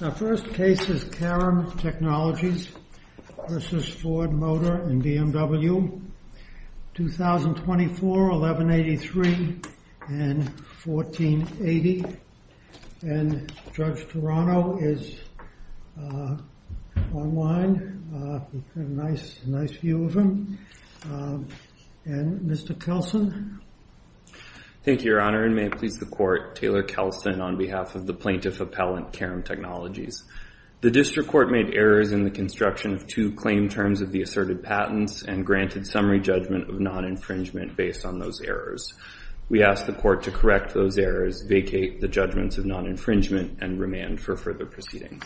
The first case is Karam Technologies v. Ford Motor and BMW, 2024, 1183 and 1480, and Judge Toronto is online, we have a nice view of him, and Mr. Kelson. Thank you, Your Honor, and may it please the court, Taylor Kelson on behalf of the plaintiff appellant Karam Technologies. The district court made errors in the construction of two claim terms of the asserted patents and granted summary judgment of non-infringement based on those errors. We ask the court to correct those errors, vacate the judgments of non-infringement, and remand for further proceedings.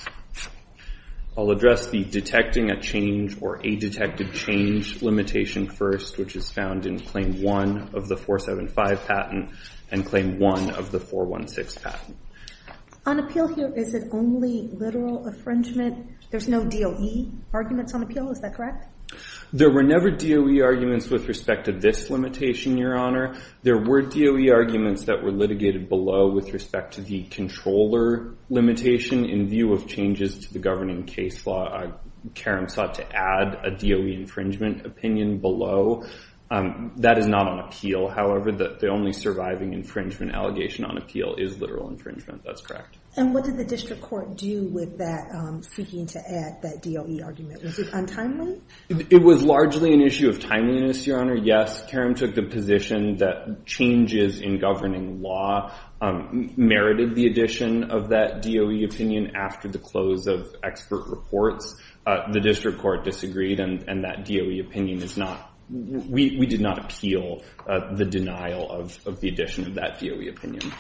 I'll address the detecting a change or a detected change limitation first, which is found in Claim 1 of the 475 patent and Claim 1 of the 416 patent. On appeal here, is it only literal infringement? There's no DOE arguments on appeal, is that correct? There were never DOE arguments with respect to this limitation, Your Honor. There were DOE arguments that were litigated below with respect to the controller limitation in view of changes to the governing case law. Karam sought to add a DOE infringement opinion below. That is not on appeal, however, the only surviving infringement allegation on appeal is literal infringement, that's correct. And what did the district court do with that seeking to add that DOE argument? Was it untimely? It was largely an issue of timeliness, Your Honor. Yes, Karam took the position that changes in governing law merited the addition of that DOE opinion after the close of expert reports. The district court disagreed and that DOE opinion is not, we did not appeal the denial of the addition of that DOE opinion.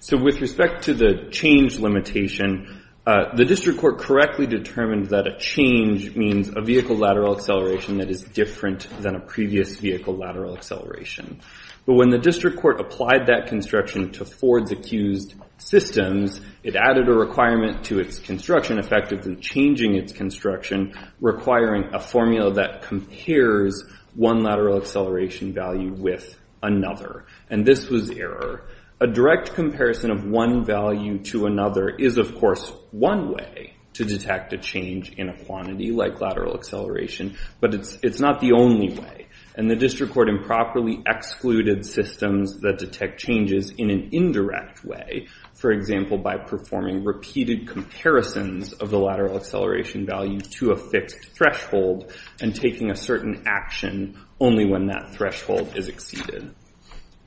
So with respect to the change limitation, the district court correctly determined that a change means a vehicle lateral acceleration that is different than a previous vehicle lateral acceleration. But when the district court applied that construction to Ford's accused systems, it added a requirement to its construction effective than changing its construction, requiring a formula that compares one lateral acceleration value with another. And this was error. A direct comparison of one value to another is, of course, one way to detect a change in a quantity like lateral acceleration, but it's not the only way. And the district court improperly excluded systems that detect changes in an indirect way, for example, by performing repeated comparisons of the lateral acceleration value to a fixed threshold and taking a certain action only when that threshold is exceeded.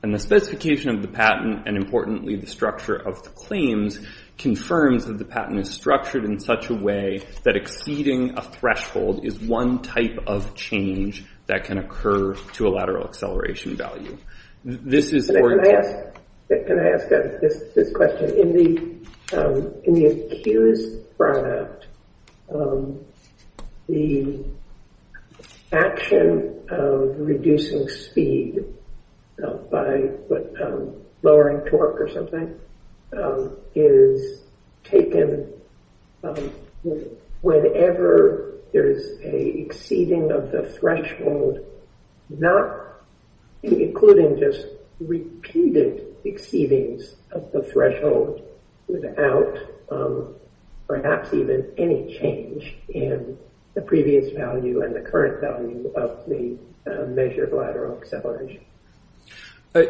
And the specification of the patent and, importantly, the structure of the claims confirms that the patent is structured in such a way that exceeding a threshold is one type of change that can occur to a lateral acceleration value. Can I ask this question? In the accused product, the action of reducing speed by lowering torque or something is taken whenever there is an exceeding of the threshold, not including just repeated exceedings of the threshold without perhaps even any change in the previous value and the current value of the measure of lateral acceleration.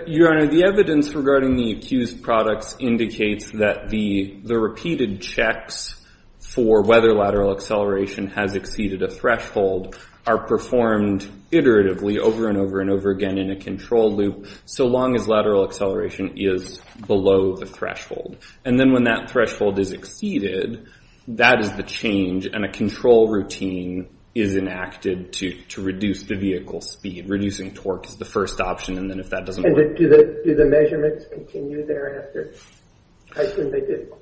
Your Honor, the evidence regarding the accused products indicates that the repeated checks for whether lateral acceleration has exceeded a threshold are performed iteratively over and over and over again in a control loop so long as lateral acceleration is below the threshold. And then when that threshold is exceeded, that is the change, and a control routine is enacted to reduce the vehicle's speed. Reducing torque is the first option, and then if that doesn't work— And do the measurements continue thereafter? I assume they do.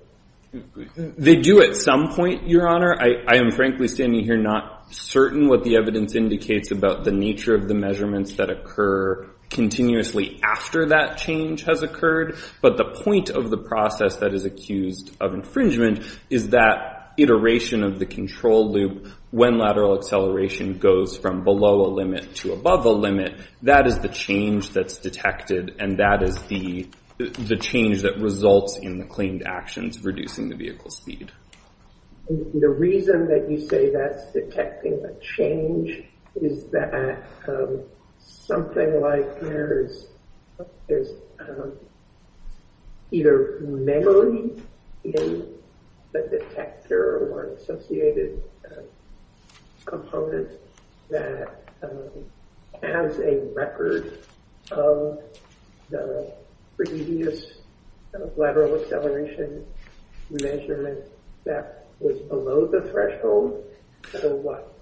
They do at some point, Your Honor. I am, frankly, standing here not certain what the evidence indicates about the nature of the measurements that occur continuously after that change has occurred. But the point of the process that is accused of infringement is that iteration of the control loop, when lateral acceleration goes from below a limit to above a limit, that is the change that's detected, and that is the change that results in the claimed actions reducing the vehicle's speed. The reason that you say that's detecting a change is that something like there's either memory in the detector or an associated component that has a record of the previous lateral acceleration measurement. That was below the threshold, so what?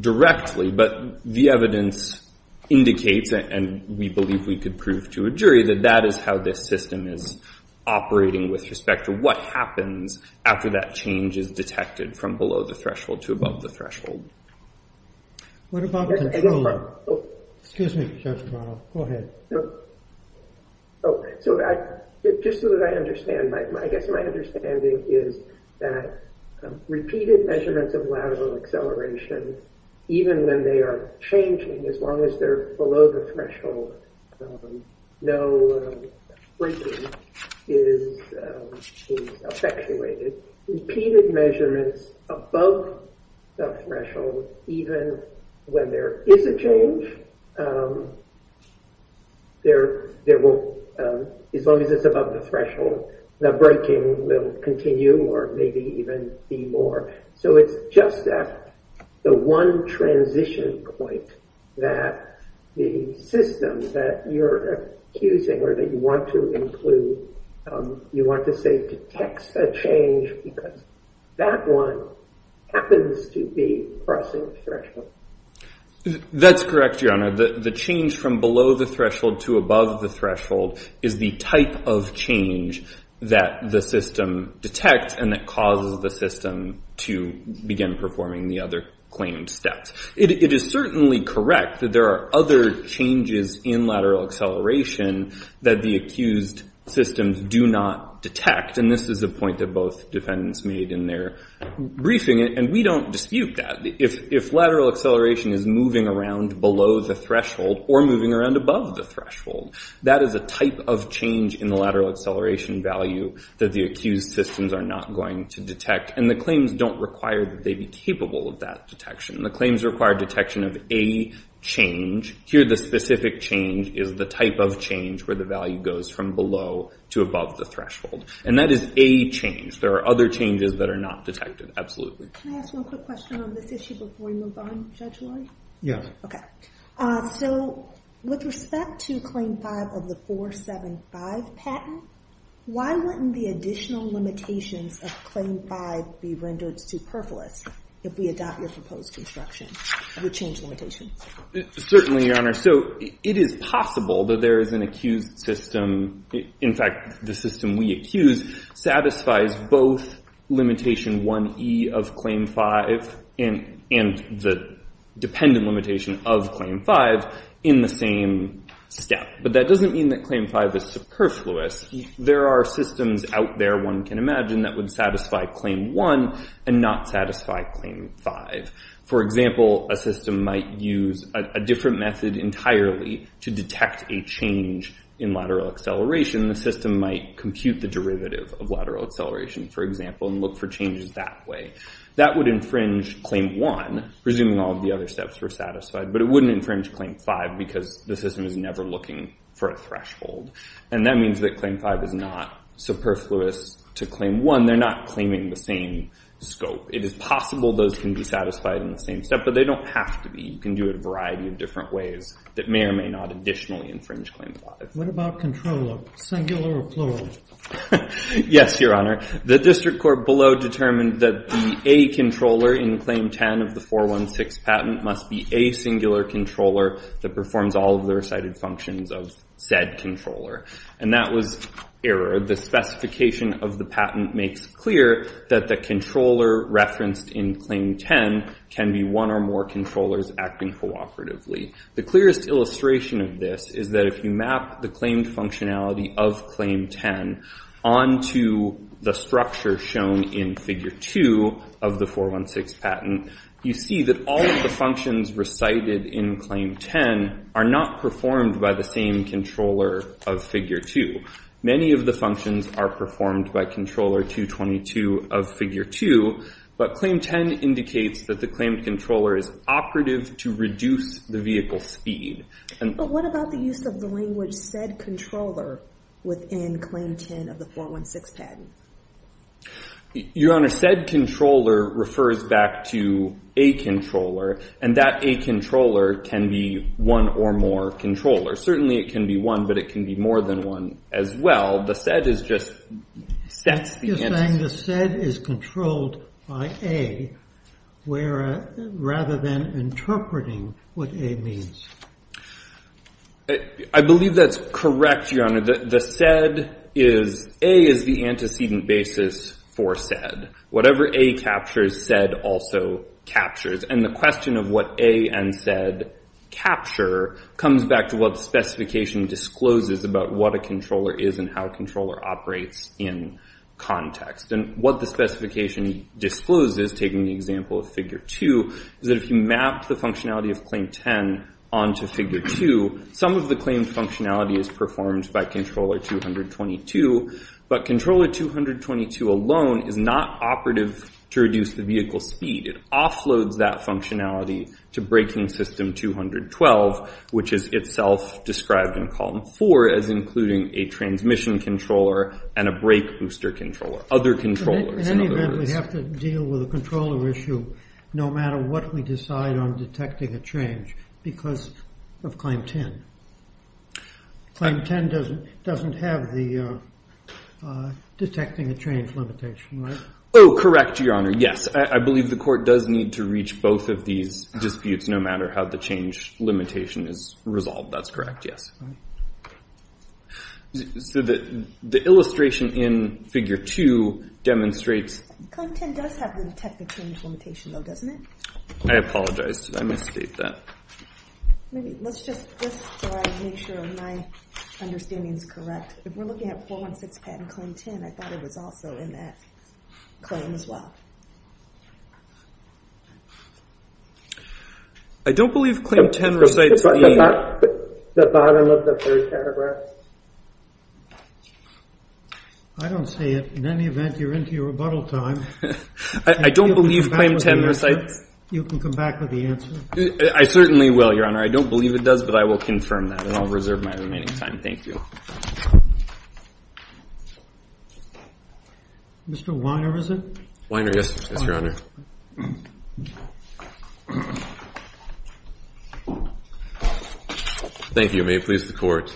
directly, but the evidence indicates, and we believe we could prove to a jury, that that is how this system is operating with respect to what happens after that change is detected from below the threshold to above the threshold. What about the control loop? Excuse me, Judge Carnell. Go ahead. So just so that I understand, I guess my understanding is that repeated measurements of lateral acceleration, even when they are changing, as long as they're below the threshold, no breaking is effectuated. Repeated measurements above the threshold, even when there is a change, as long as it's above the threshold, the breaking will continue or maybe even be more. So it's just at the one transition point that the system that you're accusing or that you want to include, you want to say detects a change because that one happens to be crossing the threshold. That's correct, Your Honor. The change from below the threshold to above the threshold is the type of change that the system detects and that causes the system to begin performing the other claimed steps. It is certainly correct that there are other changes in lateral acceleration that the accused systems do not detect, and this is a point that both defendants made in their briefing. And we don't dispute that. If lateral acceleration is moving around below the threshold or moving around above the threshold, that is a type of change in the lateral acceleration value that the accused systems are not going to detect. And the claims don't require that they be capable of that detection. The claims require detection of a change. Here, the specific change is the type of change where the value goes from below to above the threshold, and that is a change. There are other changes that are not detected, absolutely. Can I ask one quick question on this issue before we move on, Judge Lloyd? Yes. Okay. So with respect to Claim 5 of the 475 patent, why wouldn't the additional limitations of Claim 5 be rendered superfluous if we adopt your proposed construction with change limitations? Certainly, Your Honor. So it is possible that there is an accused system. In fact, the system we accuse satisfies both limitation 1E of Claim 5 and the dependent limitation of Claim 5 in the same step. But that doesn't mean that Claim 5 is superfluous. There are systems out there, one can imagine, that would satisfy Claim 1 and not satisfy Claim 5. For example, a system might use a different method entirely to detect a change in lateral acceleration. The system might compute the derivative of lateral acceleration, for example, and look for changes that way. That would infringe Claim 1, presuming all of the other steps were satisfied, but it wouldn't infringe Claim 5 because the system is never looking for a threshold. And that means that Claim 5 is not superfluous to Claim 1. They're not claiming the same scope. It is possible those can be satisfied in the same step, but they don't have to be. You can do it a variety of different ways that may or may not additionally infringe Claim 5. What about controller, singular or plural? Yes, Your Honor. The District Court below determined that the A controller in Claim 10 of the 416 patent must be a singular controller that performs all of the recited functions of said controller. And that was error. The specification of the patent makes clear that the controller referenced in Claim 10 can be one or more controllers acting cooperatively. The clearest illustration of this is that if you map the claimed functionality of Claim 10 onto the structure shown in Figure 2 of the 416 patent, you see that all of the functions recited in Claim 10 are not performed by the same controller of Figure 2. Many of the functions are performed by Controller 222 of Figure 2, but Claim 10 indicates that the claimed controller is operative to reduce the vehicle speed. But what about the use of the language said controller within Claim 10 of the 416 patent? Your Honor, said controller refers back to A controller, and that A controller can be one or more controllers. Certainly, it can be one, but it can be more than one as well. The said is just sets the antecedent. You're saying the said is controlled by A rather than interpreting what A means? I believe that's correct, Your Honor. The said is A is the antecedent basis for said. Whatever A captures, said also captures. And the question of what A and said capture comes back to what the specification discloses about what a controller is and how a controller operates in context. And what the specification discloses, taking the example of Figure 2, is that if you map the functionality of Claim 10 onto Figure 2, some of the claimed functionality is performed by Controller 222. But Controller 222 alone is not operative to reduce the vehicle speed. It offloads that functionality to Braking System 212, which is itself described in Column 4 as including a transmission controller and a brake booster controller. In any event, we have to deal with a controller issue no matter what we decide on detecting a change because of Claim 10. Claim 10 doesn't have the detecting a change limitation, right? Oh, correct, Your Honor. Yes. I believe the court does need to reach both of these disputes no matter how the change limitation is resolved. That's correct, yes. So the illustration in Figure 2 demonstrates… Claim 10 does have the detecting a change limitation, though, doesn't it? I apologize. I misstated that. Maybe let's just try to make sure my understanding is correct. If we're looking at 416 patent Claim 10, I thought it was also in that claim as well. I don't believe Claim 10 recites the… The bottom of the first paragraph. I don't see it. In any event, you're into your rebuttal time. I don't believe Claim 10 recites… You can come back with the answer. I certainly will, Your Honor. I don't believe it does, but I will confirm that, and I'll reserve my remaining time. Thank you. Mr. Weiner, is it? Weiner, yes. Yes, Your Honor. Thank you. May it please the Court.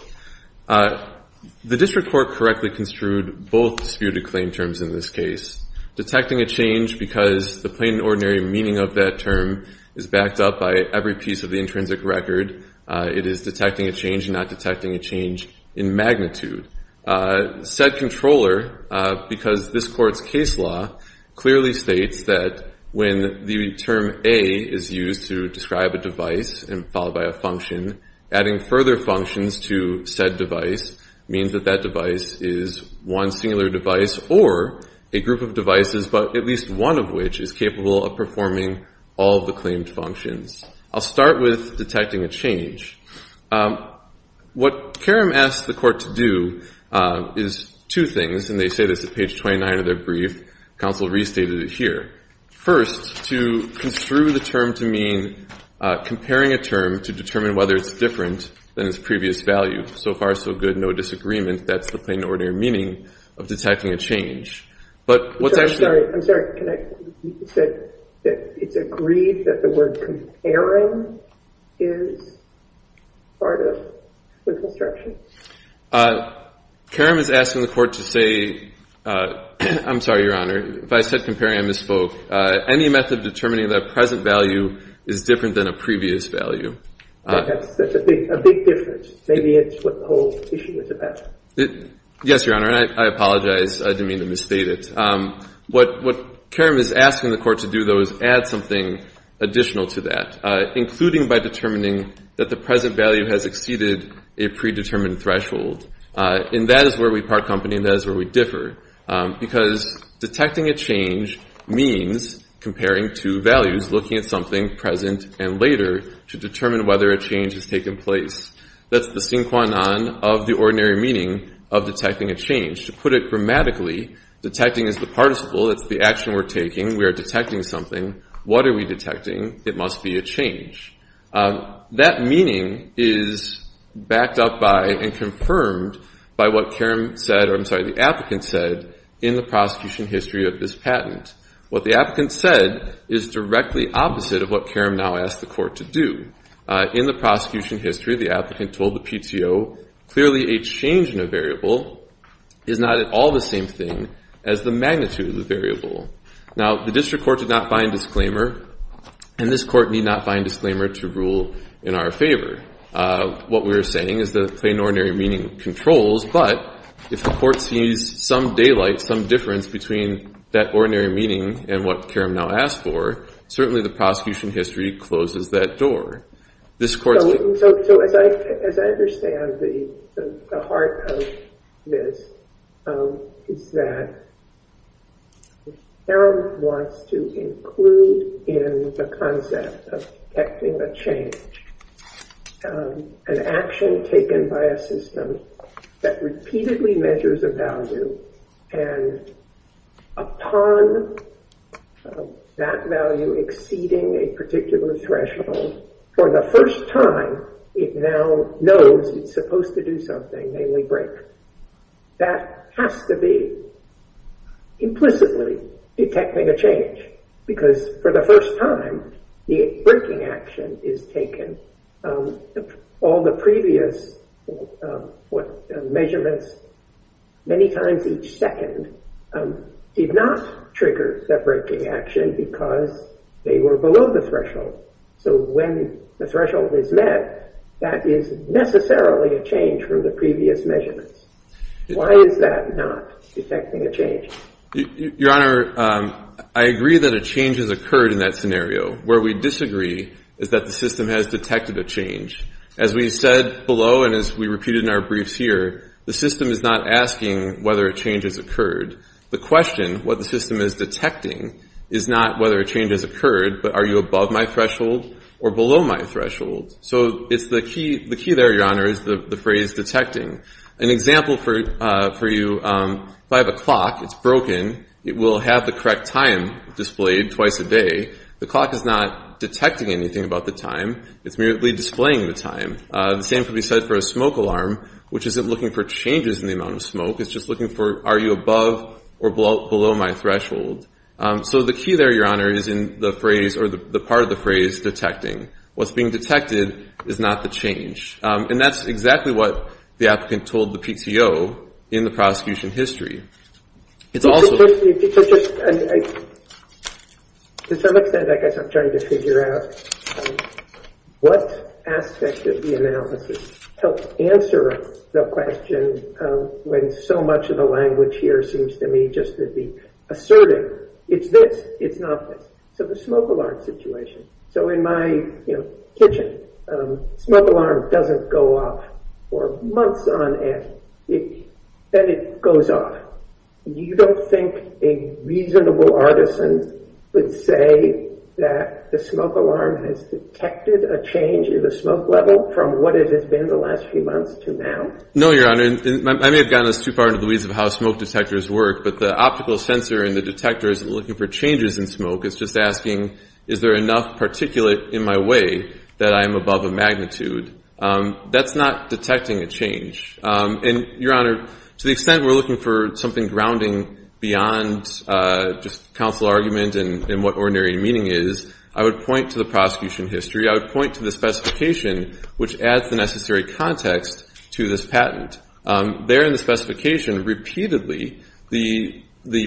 The District Court correctly construed both disputed claim terms in this case. Detecting a change because the plain and ordinary meaning of that term is backed up by every piece of the intrinsic record. It is detecting a change and not detecting a change in magnitude. Said controller, because this Court's case law clearly states that when the term A is used to describe a device and followed by a function, adding further functions to said device means that that device is one singular device or a group of devices, but at least one of which is capable of performing all of the claimed functions. I'll start with detecting a change. What Karam asked the Court to do is two things, and they say this at page 29 of their brief. Counsel restated it here. First, to construe the term to mean comparing a term to determine whether it's different than its previous value. So far, so good. No disagreement. That's the plain and ordinary meaning of detecting a change. But what's actually… I'm sorry. I'm sorry. It's agreed that the word comparing is part of the construction. Karam is asking the Court to say — I'm sorry, Your Honor. If I said comparing, I misspoke. Any method of determining the present value is different than a previous value. That's a big difference. Maybe it's what the whole issue is about. Yes, Your Honor. I apologize. I didn't mean to misstate it. What Karam is asking the Court to do, though, is add something additional to that, including by determining that the present value has exceeded a predetermined threshold. And that is where we part company, and that is where we differ. Because detecting a change means comparing two values, looking at something present and later, to determine whether a change has taken place. That's the sine qua non of the ordinary meaning of detecting a change. To put it grammatically, detecting is the participle. It's the action we're taking. We are detecting something. What are we detecting? It must be a change. That meaning is backed up by and confirmed by what Karam said — or I'm sorry, the applicant said in the prosecution history of this patent. What the applicant said is directly opposite of what Karam now asked the Court to do. In the prosecution history, the applicant told the PTO, clearly a change in a variable is not at all the same thing as the magnitude of the variable. Now, the District Court did not find disclaimer, and this Court need not find disclaimer to rule in our favor. What we are saying is that plain ordinary meaning controls, but if the Court sees some daylight, some difference between that ordinary meaning and what Karam now asked for, certainly the prosecution history closes that door. So as I understand the heart of this, it's that Karam wants to include in the concept of detecting a change an action taken by a system that repeatedly measures a value, and upon that value exceeding a particular threshold, for the first time it now knows it's supposed to do something, namely break. That has to be implicitly detecting a change, because for the first time the breaking action is taken. All the previous measurements, many times each second, did not trigger the breaking action because they were below the threshold. So when the threshold is met, that is necessarily a change from the previous measurements. Why is that not detecting a change? Your Honor, I agree that a change has occurred in that scenario. Where we disagree is that the system has detected a change. As we said below and as we repeated in our briefs here, the system is not asking whether a change has occurred. The question, what the system is detecting, is not whether a change has occurred, but are you above my threshold or below my threshold. So the key there, Your Honor, is the phrase detecting. An example for you, if I have a clock, it's broken, it will have the correct time displayed twice a day. The clock is not detecting anything about the time. It's merely displaying the time. The same can be said for a smoke alarm, which isn't looking for changes in the amount of smoke. It's just looking for are you above or below my threshold. So the key there, Your Honor, is in the phrase or the part of the phrase detecting. What's being detected is not the change. And that's exactly what the applicant told the PTO in the prosecution history. To some extent, I guess I'm trying to figure out what aspect of the analysis helps answer the question when so much of the language here seems to me just to be asserting it's this, it's not this. So the smoke alarm situation. So in my kitchen, smoke alarm doesn't go off for months on end. Then it goes off. You don't think a reasonable artisan would say that the smoke alarm has detected a change in the smoke level from what it has been the last few months to now? No, Your Honor. I may have gotten us too far into the weeds of how smoke detectors work, but the optical sensor in the detector isn't looking for changes in smoke. It's just asking is there enough particulate in my way that I am above a magnitude. That's not detecting a change. And, Your Honor, to the extent we're looking for something grounding beyond just counsel argument and what ordinary meaning is, I would point to the prosecution history. I would point to the specification, which adds the necessary context to this patent. There in the specification, repeatedly, the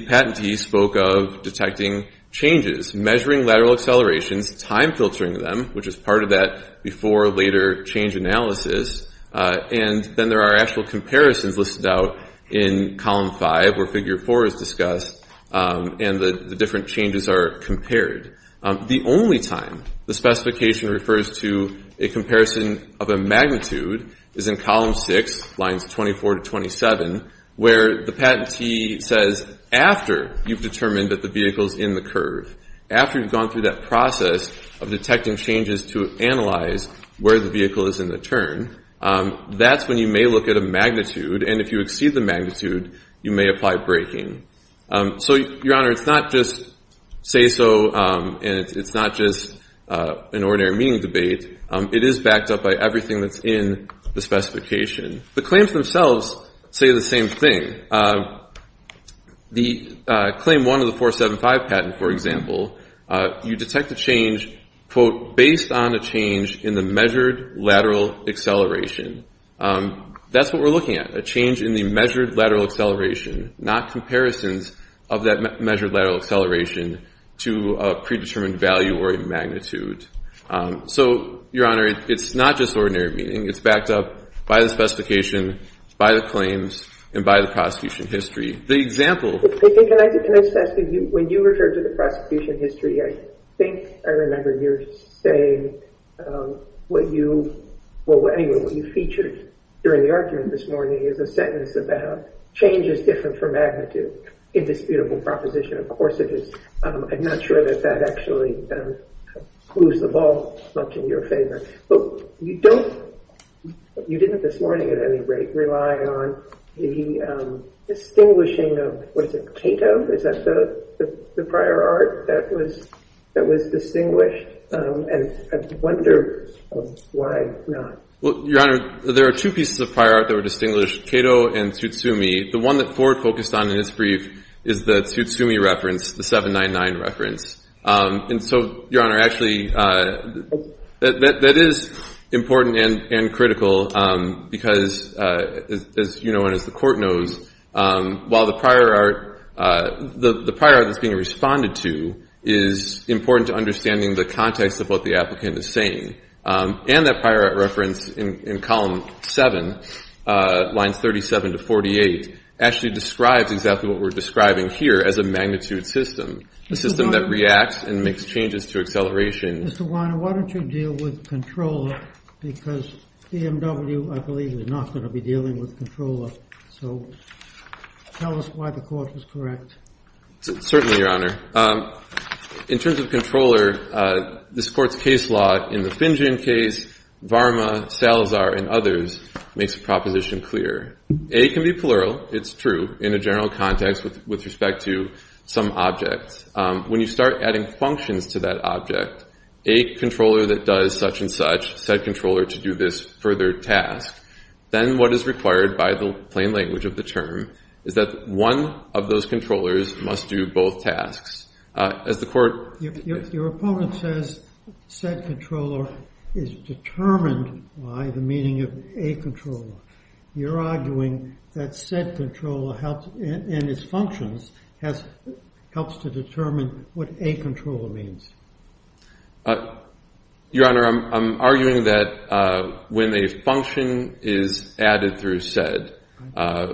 patentee spoke of detecting changes, measuring lateral accelerations, time filtering them, which is part of that before or later change analysis. And then there are actual comparisons listed out in Column 5 where Figure 4 is discussed and the different changes are compared. The only time the specification refers to a comparison of a magnitude is in Column 6, Lines 24 to 27, where the patentee says after you've determined that the vehicle is in the curve, after you've gone through that process of detecting changes to analyze where the vehicle is in the turn, that's when you may look at a magnitude, and if you exceed the magnitude, you may apply braking. So, Your Honor, it's not just say-so and it's not just an ordinary meaning debate. It is backed up by everything that's in the specification. The claims themselves say the same thing. The Claim 1 of the 475 patent, for example, you detect a change, quote, based on a change in the measured lateral acceleration. That's what we're looking at, a change in the measured lateral acceleration, not comparisons of that measured lateral acceleration to a predetermined value or a magnitude. So, Your Honor, it's not just ordinary meaning. It's backed up by the specification, by the claims, and by the prosecution history. The example— Can I just ask you, when you refer to the prosecution history, I think I remember you saying what you— well, anyway, what you featured during the argument this morning is a sentence about change is different for magnitude. Indisputable proposition. Of course it is. I'm not sure that that actually moves the ball much in your favor. But you don't—you didn't this morning at any rate rely on the distinguishing of, what is it, Cato? Is that the prior art that was distinguished? And I wonder why not. Well, Your Honor, there are two pieces of prior art that were distinguished, Cato and Tsutsumi. The one that Ford focused on in his brief is the Tsutsumi reference, the 799 reference. And so, Your Honor, actually, that is important and critical because, as you know and as the court knows, while the prior art that's being responded to is important to understanding the context of what the applicant is saying, and that prior art reference in column 7, lines 37 to 48, actually describes exactly what we're describing here as a magnitude system, a system that reacts and makes changes to acceleration. Mr. Weiner, why don't you deal with controller? Because BMW, I believe, is not going to be dealing with controller. So tell us why the court was correct. Certainly, Your Honor. In terms of controller, this court's case law in the Finjan case, Varma, Salazar, and others, makes the proposition clear. A can be plural. It's true in a general context with respect to some objects. When you start adding functions to that object, a controller that does such and such, said controller to do this further task, then what is required by the plain language of the term is that one of those controllers must do both tasks. As the court— Your opponent says said controller is determined by the meaning of a controller. You're arguing that said controller and its functions helps to determine what a controller means. Your Honor, I'm arguing that when a function is added through said, a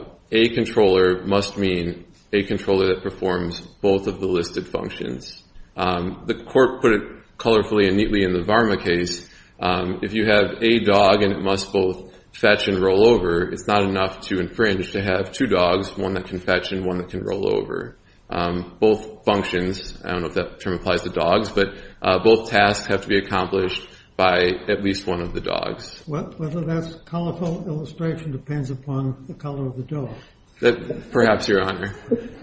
controller must mean a controller that performs both of the listed functions. The court put it colorfully and neatly in the Varma case. If you have a dog and it must both fetch and roll over, it's not enough to infringe to have two dogs, one that can fetch and one that can roll over. Both functions, I don't know if that term applies to dogs, but both tasks have to be accomplished by at least one of the dogs. Well, whether that's colorful illustration depends upon the color of the dog. Perhaps, Your Honor.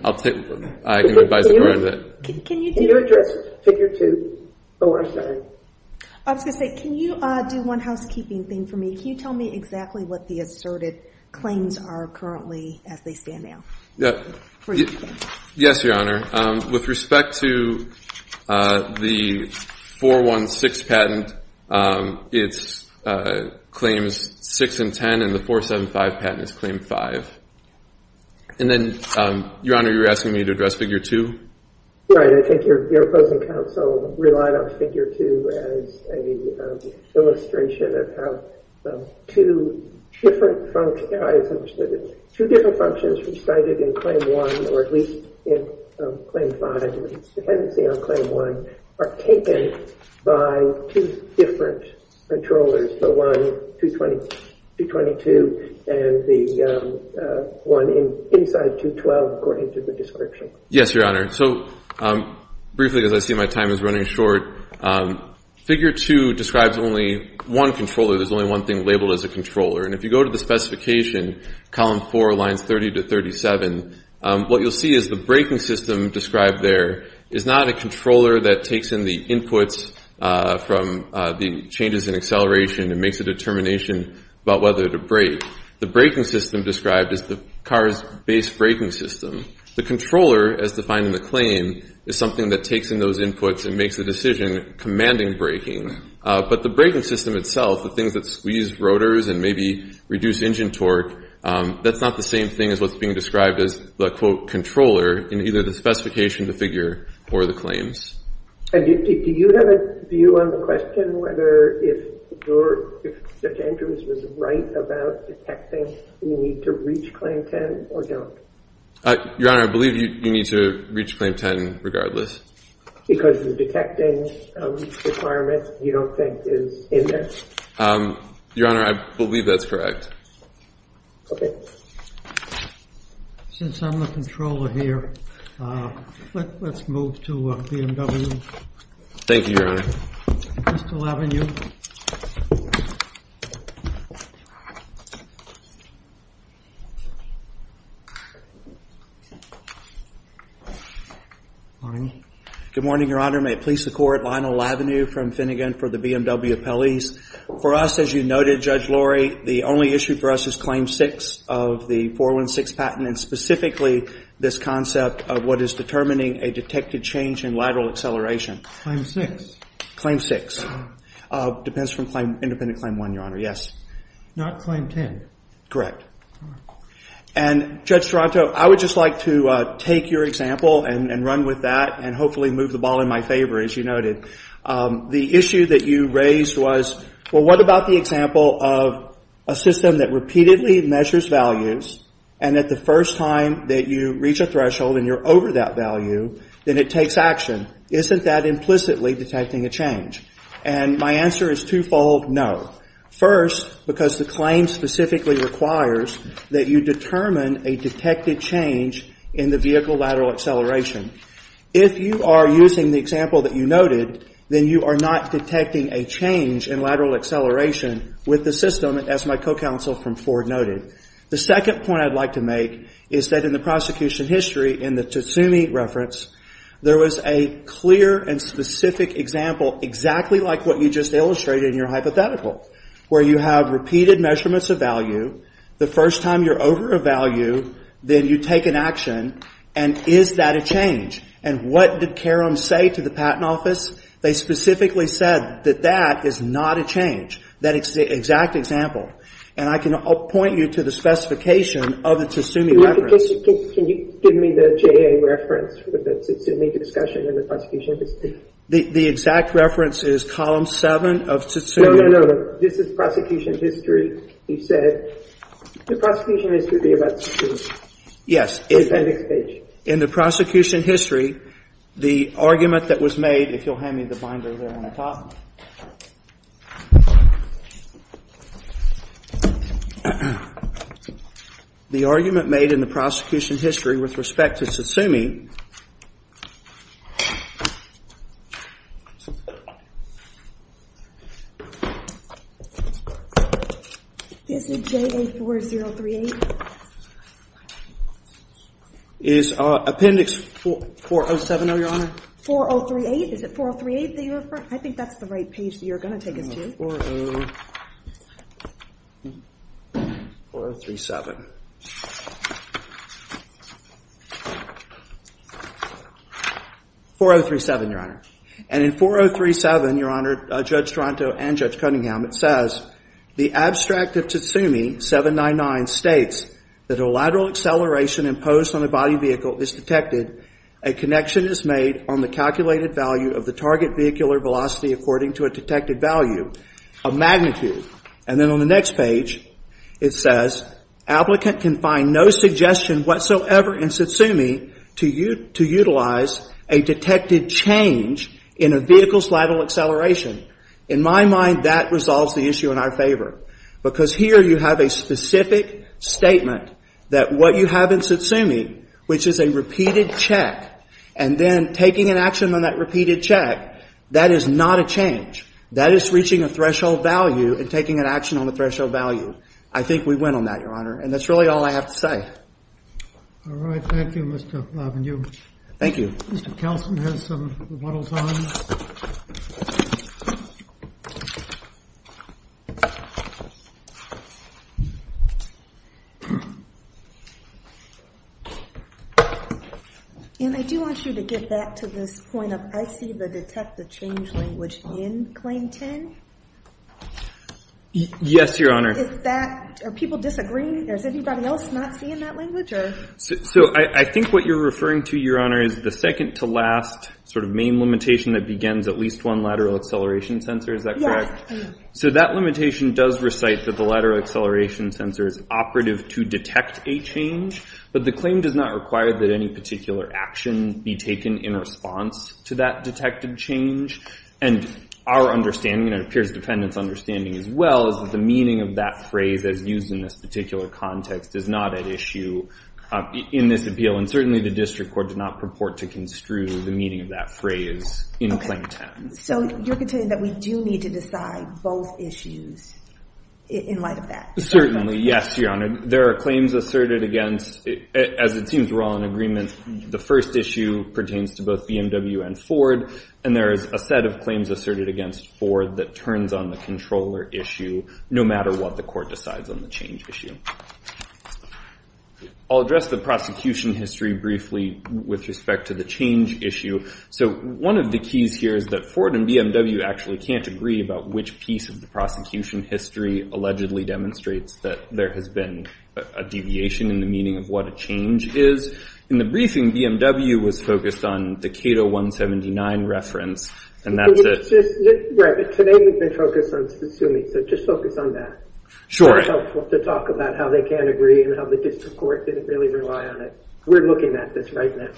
I can advise the court on that. Can you address figure two? I was going to say, can you do one housekeeping thing for me? Can you tell me exactly what the asserted claims are currently as they stand now? Yes, Your Honor. With respect to the 416 patent, it's claims six and ten, and the 475 patent is claim five. And then, Your Honor, you were asking me to address figure two? Right. I think your opposing counsel relied on figure two as an illustration of how two different functions, as I understood it, two different functions recited in claim one, or at least in claim five, dependency on claim one, are taken by two different controllers, the one 220-222 and the one inside 212, according to the description. Yes, Your Honor. So briefly, as I see my time is running short, figure two describes only one controller. There's only one thing labeled as a controller. And if you go to the specification, column four, lines 30 to 37, what you'll see is the braking system described there is not a controller that takes in the inputs from the changes in acceleration and makes a determination about whether to brake. The braking system described is the car's base braking system. The controller, as defined in the claim, is something that takes in those inputs and makes a decision commanding braking. But the braking system itself, the things that squeeze rotors and maybe reduce engine torque, that's not the same thing as what's being described as the, quote, controller in either the specification, the figure, or the claims. Do you have a view on the question whether if Judge Andrews was right about detecting, we need to reach claim 10 or don't? Your Honor, I believe you need to reach claim 10 regardless. Because the detecting requirement, you don't think, is in there? Your Honor, I believe that's correct. OK. Since I'm the controller here, let's move to BMW. Thank you, Your Honor. Crystal Avenue. Good morning, Your Honor. May it please the Court, Lionel Avenue from Finnegan for the BMW appellees. For us, as you noted, Judge Lori, the only issue for us is claim 6 of the 416 patent, and specifically this concept of what is determining a detected change in lateral acceleration. Claim 6. Claim 6. Depends from claim, independent claim 1, Your Honor. Yes. Not claim 10. Correct. And, Judge Toronto, I would just like to take your example and run with that and hopefully move the ball in my favor, as you noted. The issue that you raised was, well, what about the example of a system that repeatedly measures values and that the first time that you reach a threshold and you're over that value, then it takes action. Isn't that implicitly detecting a change? And my answer is twofold, no. First, because the claim specifically requires that you determine a detected change in the vehicle lateral acceleration. If you are using the example that you noted, then you are not detecting a change in lateral acceleration with the system, as my co-counsel from Ford noted. The second point I'd like to make is that in the prosecution history, in the Tsutsumi reference, there was a clear and specific example exactly like what you just illustrated in your hypothetical, where you have repeated measurements of value. The first time you're over a value, then you take an action. And is that a change? And what did Karam say to the Patent Office? They specifically said that that is not a change, that exact example. And I can point you to the specification of the Tsutsumi reference. Can you give me the JA reference for the Tsutsumi discussion in the prosecution history? The exact reference is column 7 of Tsutsumi. No, no, no. This is prosecution history. He said the prosecution history would be about Tsutsumi. On the appendix page. In the prosecution history, the argument that was made, if you'll hand me the binder there on the top. The argument made in the prosecution history with respect to Tsutsumi. Is it JA 4038? Is appendix 4070, Your Honor? 4038. Is it 4038 that you refer? I think that's the reference. 4037. 4037, Your Honor. And in 4037, Your Honor, Judge Toronto and Judge Cunningham, it says, the abstract of Tsutsumi 799 states that a lateral acceleration imposed on a body vehicle is detected, a connection is made on the calculated value of the target vehicular velocity according to a detected value of magnitude. And then on the next page, it says, applicant can find no suggestion whatsoever in Tsutsumi to utilize a detected change in a vehicle's lateral acceleration. In my mind, that resolves the issue in our favor. Because here you have a specific statement that what you have in Tsutsumi, which is a repeated check, and then taking an action on that repeated check, that is not a change. That is reaching a threshold value and taking an action on the threshold value. I think we win on that, Your Honor. And that's really all I have to say. All right. Thank you, Mr. Lavenue. Thank you. Mr. Kelson has some rebuttals on. And I do want you to get back to this point of, I see the detected change language in Claim 10. Yes, Your Honor. Is that, are people disagreeing? Is anybody else not seeing that language? Sure. So I think what you're referring to, Your Honor, is the second-to-last sort of main limitation that begins at least one lateral acceleration sensor. Is that correct? So that limitation does recite that the lateral acceleration sensor is operative to detect a change. But the claim does not require that any particular action be taken in response to that detected change. And our understanding, and it appears the defendant's understanding as well, is that the meaning of that phrase as used in this particular context is not at issue in this appeal. And certainly the district court did not purport to construe the meaning of that phrase in Claim 10. So you're contending that we do need to decide both issues in light of that? Certainly. Yes, Your Honor. There are claims asserted against, as it seems we're all in agreement, the first issue pertains to both BMW and Ford. And there is a set of claims asserted against Ford that turns on the controller issue no matter what the court decides on the change issue. I'll address the prosecution history briefly with respect to the change issue. So one of the keys here is that Ford and BMW actually can't agree about which piece of the prosecution history allegedly demonstrates that there has been a deviation in the meaning of what a change is. In the briefing, BMW was focused on the Cato 179 reference, and that's it. Right, but today we've been focused on Tsutsumi, so just focus on that. Sure. It's helpful to talk about how they can't agree and how the district court didn't really rely on it. We're looking at this right now.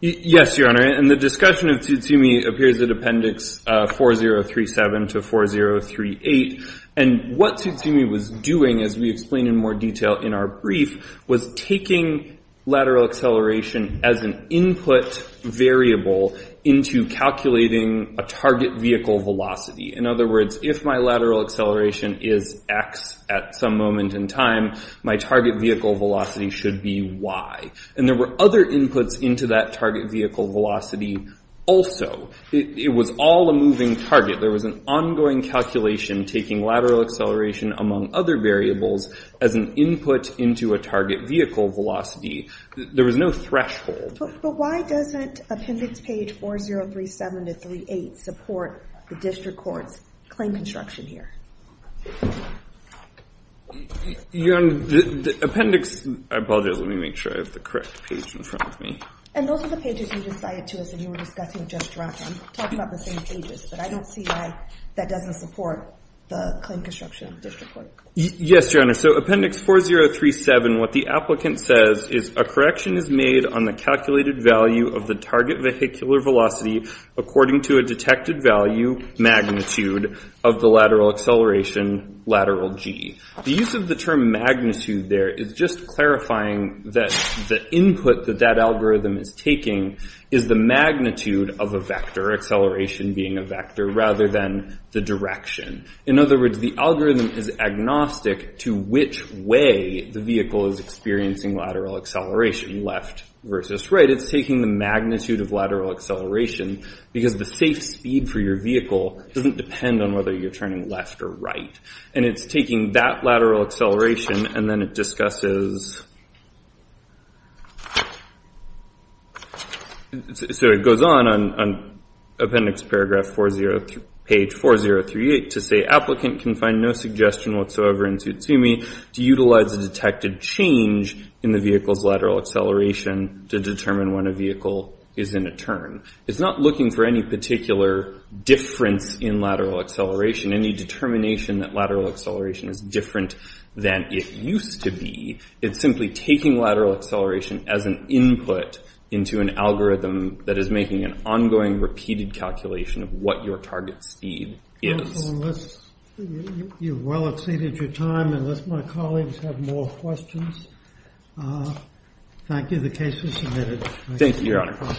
Yes, Your Honor. And the discussion of Tsutsumi appears in Appendix 4037 to 4038. And what Tsutsumi was doing, as we explain in more detail in our brief, was taking lateral acceleration as an input variable into calculating a target vehicle velocity. In other words, if my lateral acceleration is x at some moment in time, my target vehicle velocity should be y. And there were other inputs into that target vehicle velocity also. It was all a moving target. There was an ongoing calculation taking lateral acceleration, among other variables, as an input into a target vehicle velocity. There was no threshold. But why doesn't Appendix page 4037 to 4038 support the district court's claim construction here? Your Honor, the appendix – I apologize. Let me make sure I have the correct page in front of me. And those are the pages you just cited to us and you were discussing just right. I'm talking about the same pages. But I don't see why that doesn't support the claim construction of the district court. Yes, Your Honor. So Appendix 4037, what the applicant says is, a correction is made on the calculated value of the target vehicular velocity according to a detected value magnitude of the lateral acceleration, lateral g. The use of the term magnitude there is just clarifying that the input that that algorithm is taking is the magnitude of a vector, acceleration being a vector, rather than the direction. In other words, the algorithm is agnostic to which way the vehicle is experiencing lateral acceleration, left versus right. It's taking the magnitude of lateral acceleration because the safe speed for your vehicle doesn't depend on whether you're turning left or right. And it's taking that lateral acceleration and then it discusses... So it goes on on Appendix Paragraph 40, page 4038 to say, applicant can find no suggestion whatsoever in Tsutsumi to utilize a detected change in the vehicle's lateral acceleration to determine when a vehicle is in a turn. It's not looking for any particular difference in lateral acceleration, any determination that lateral acceleration is different than it used to be. It's simply taking lateral acceleration as an input into an algorithm that is making an ongoing, repeated calculation of what your target speed is. You've well exceeded your time. Unless my colleagues have more questions. Thank you. The case is submitted. Thank you, Your Honor.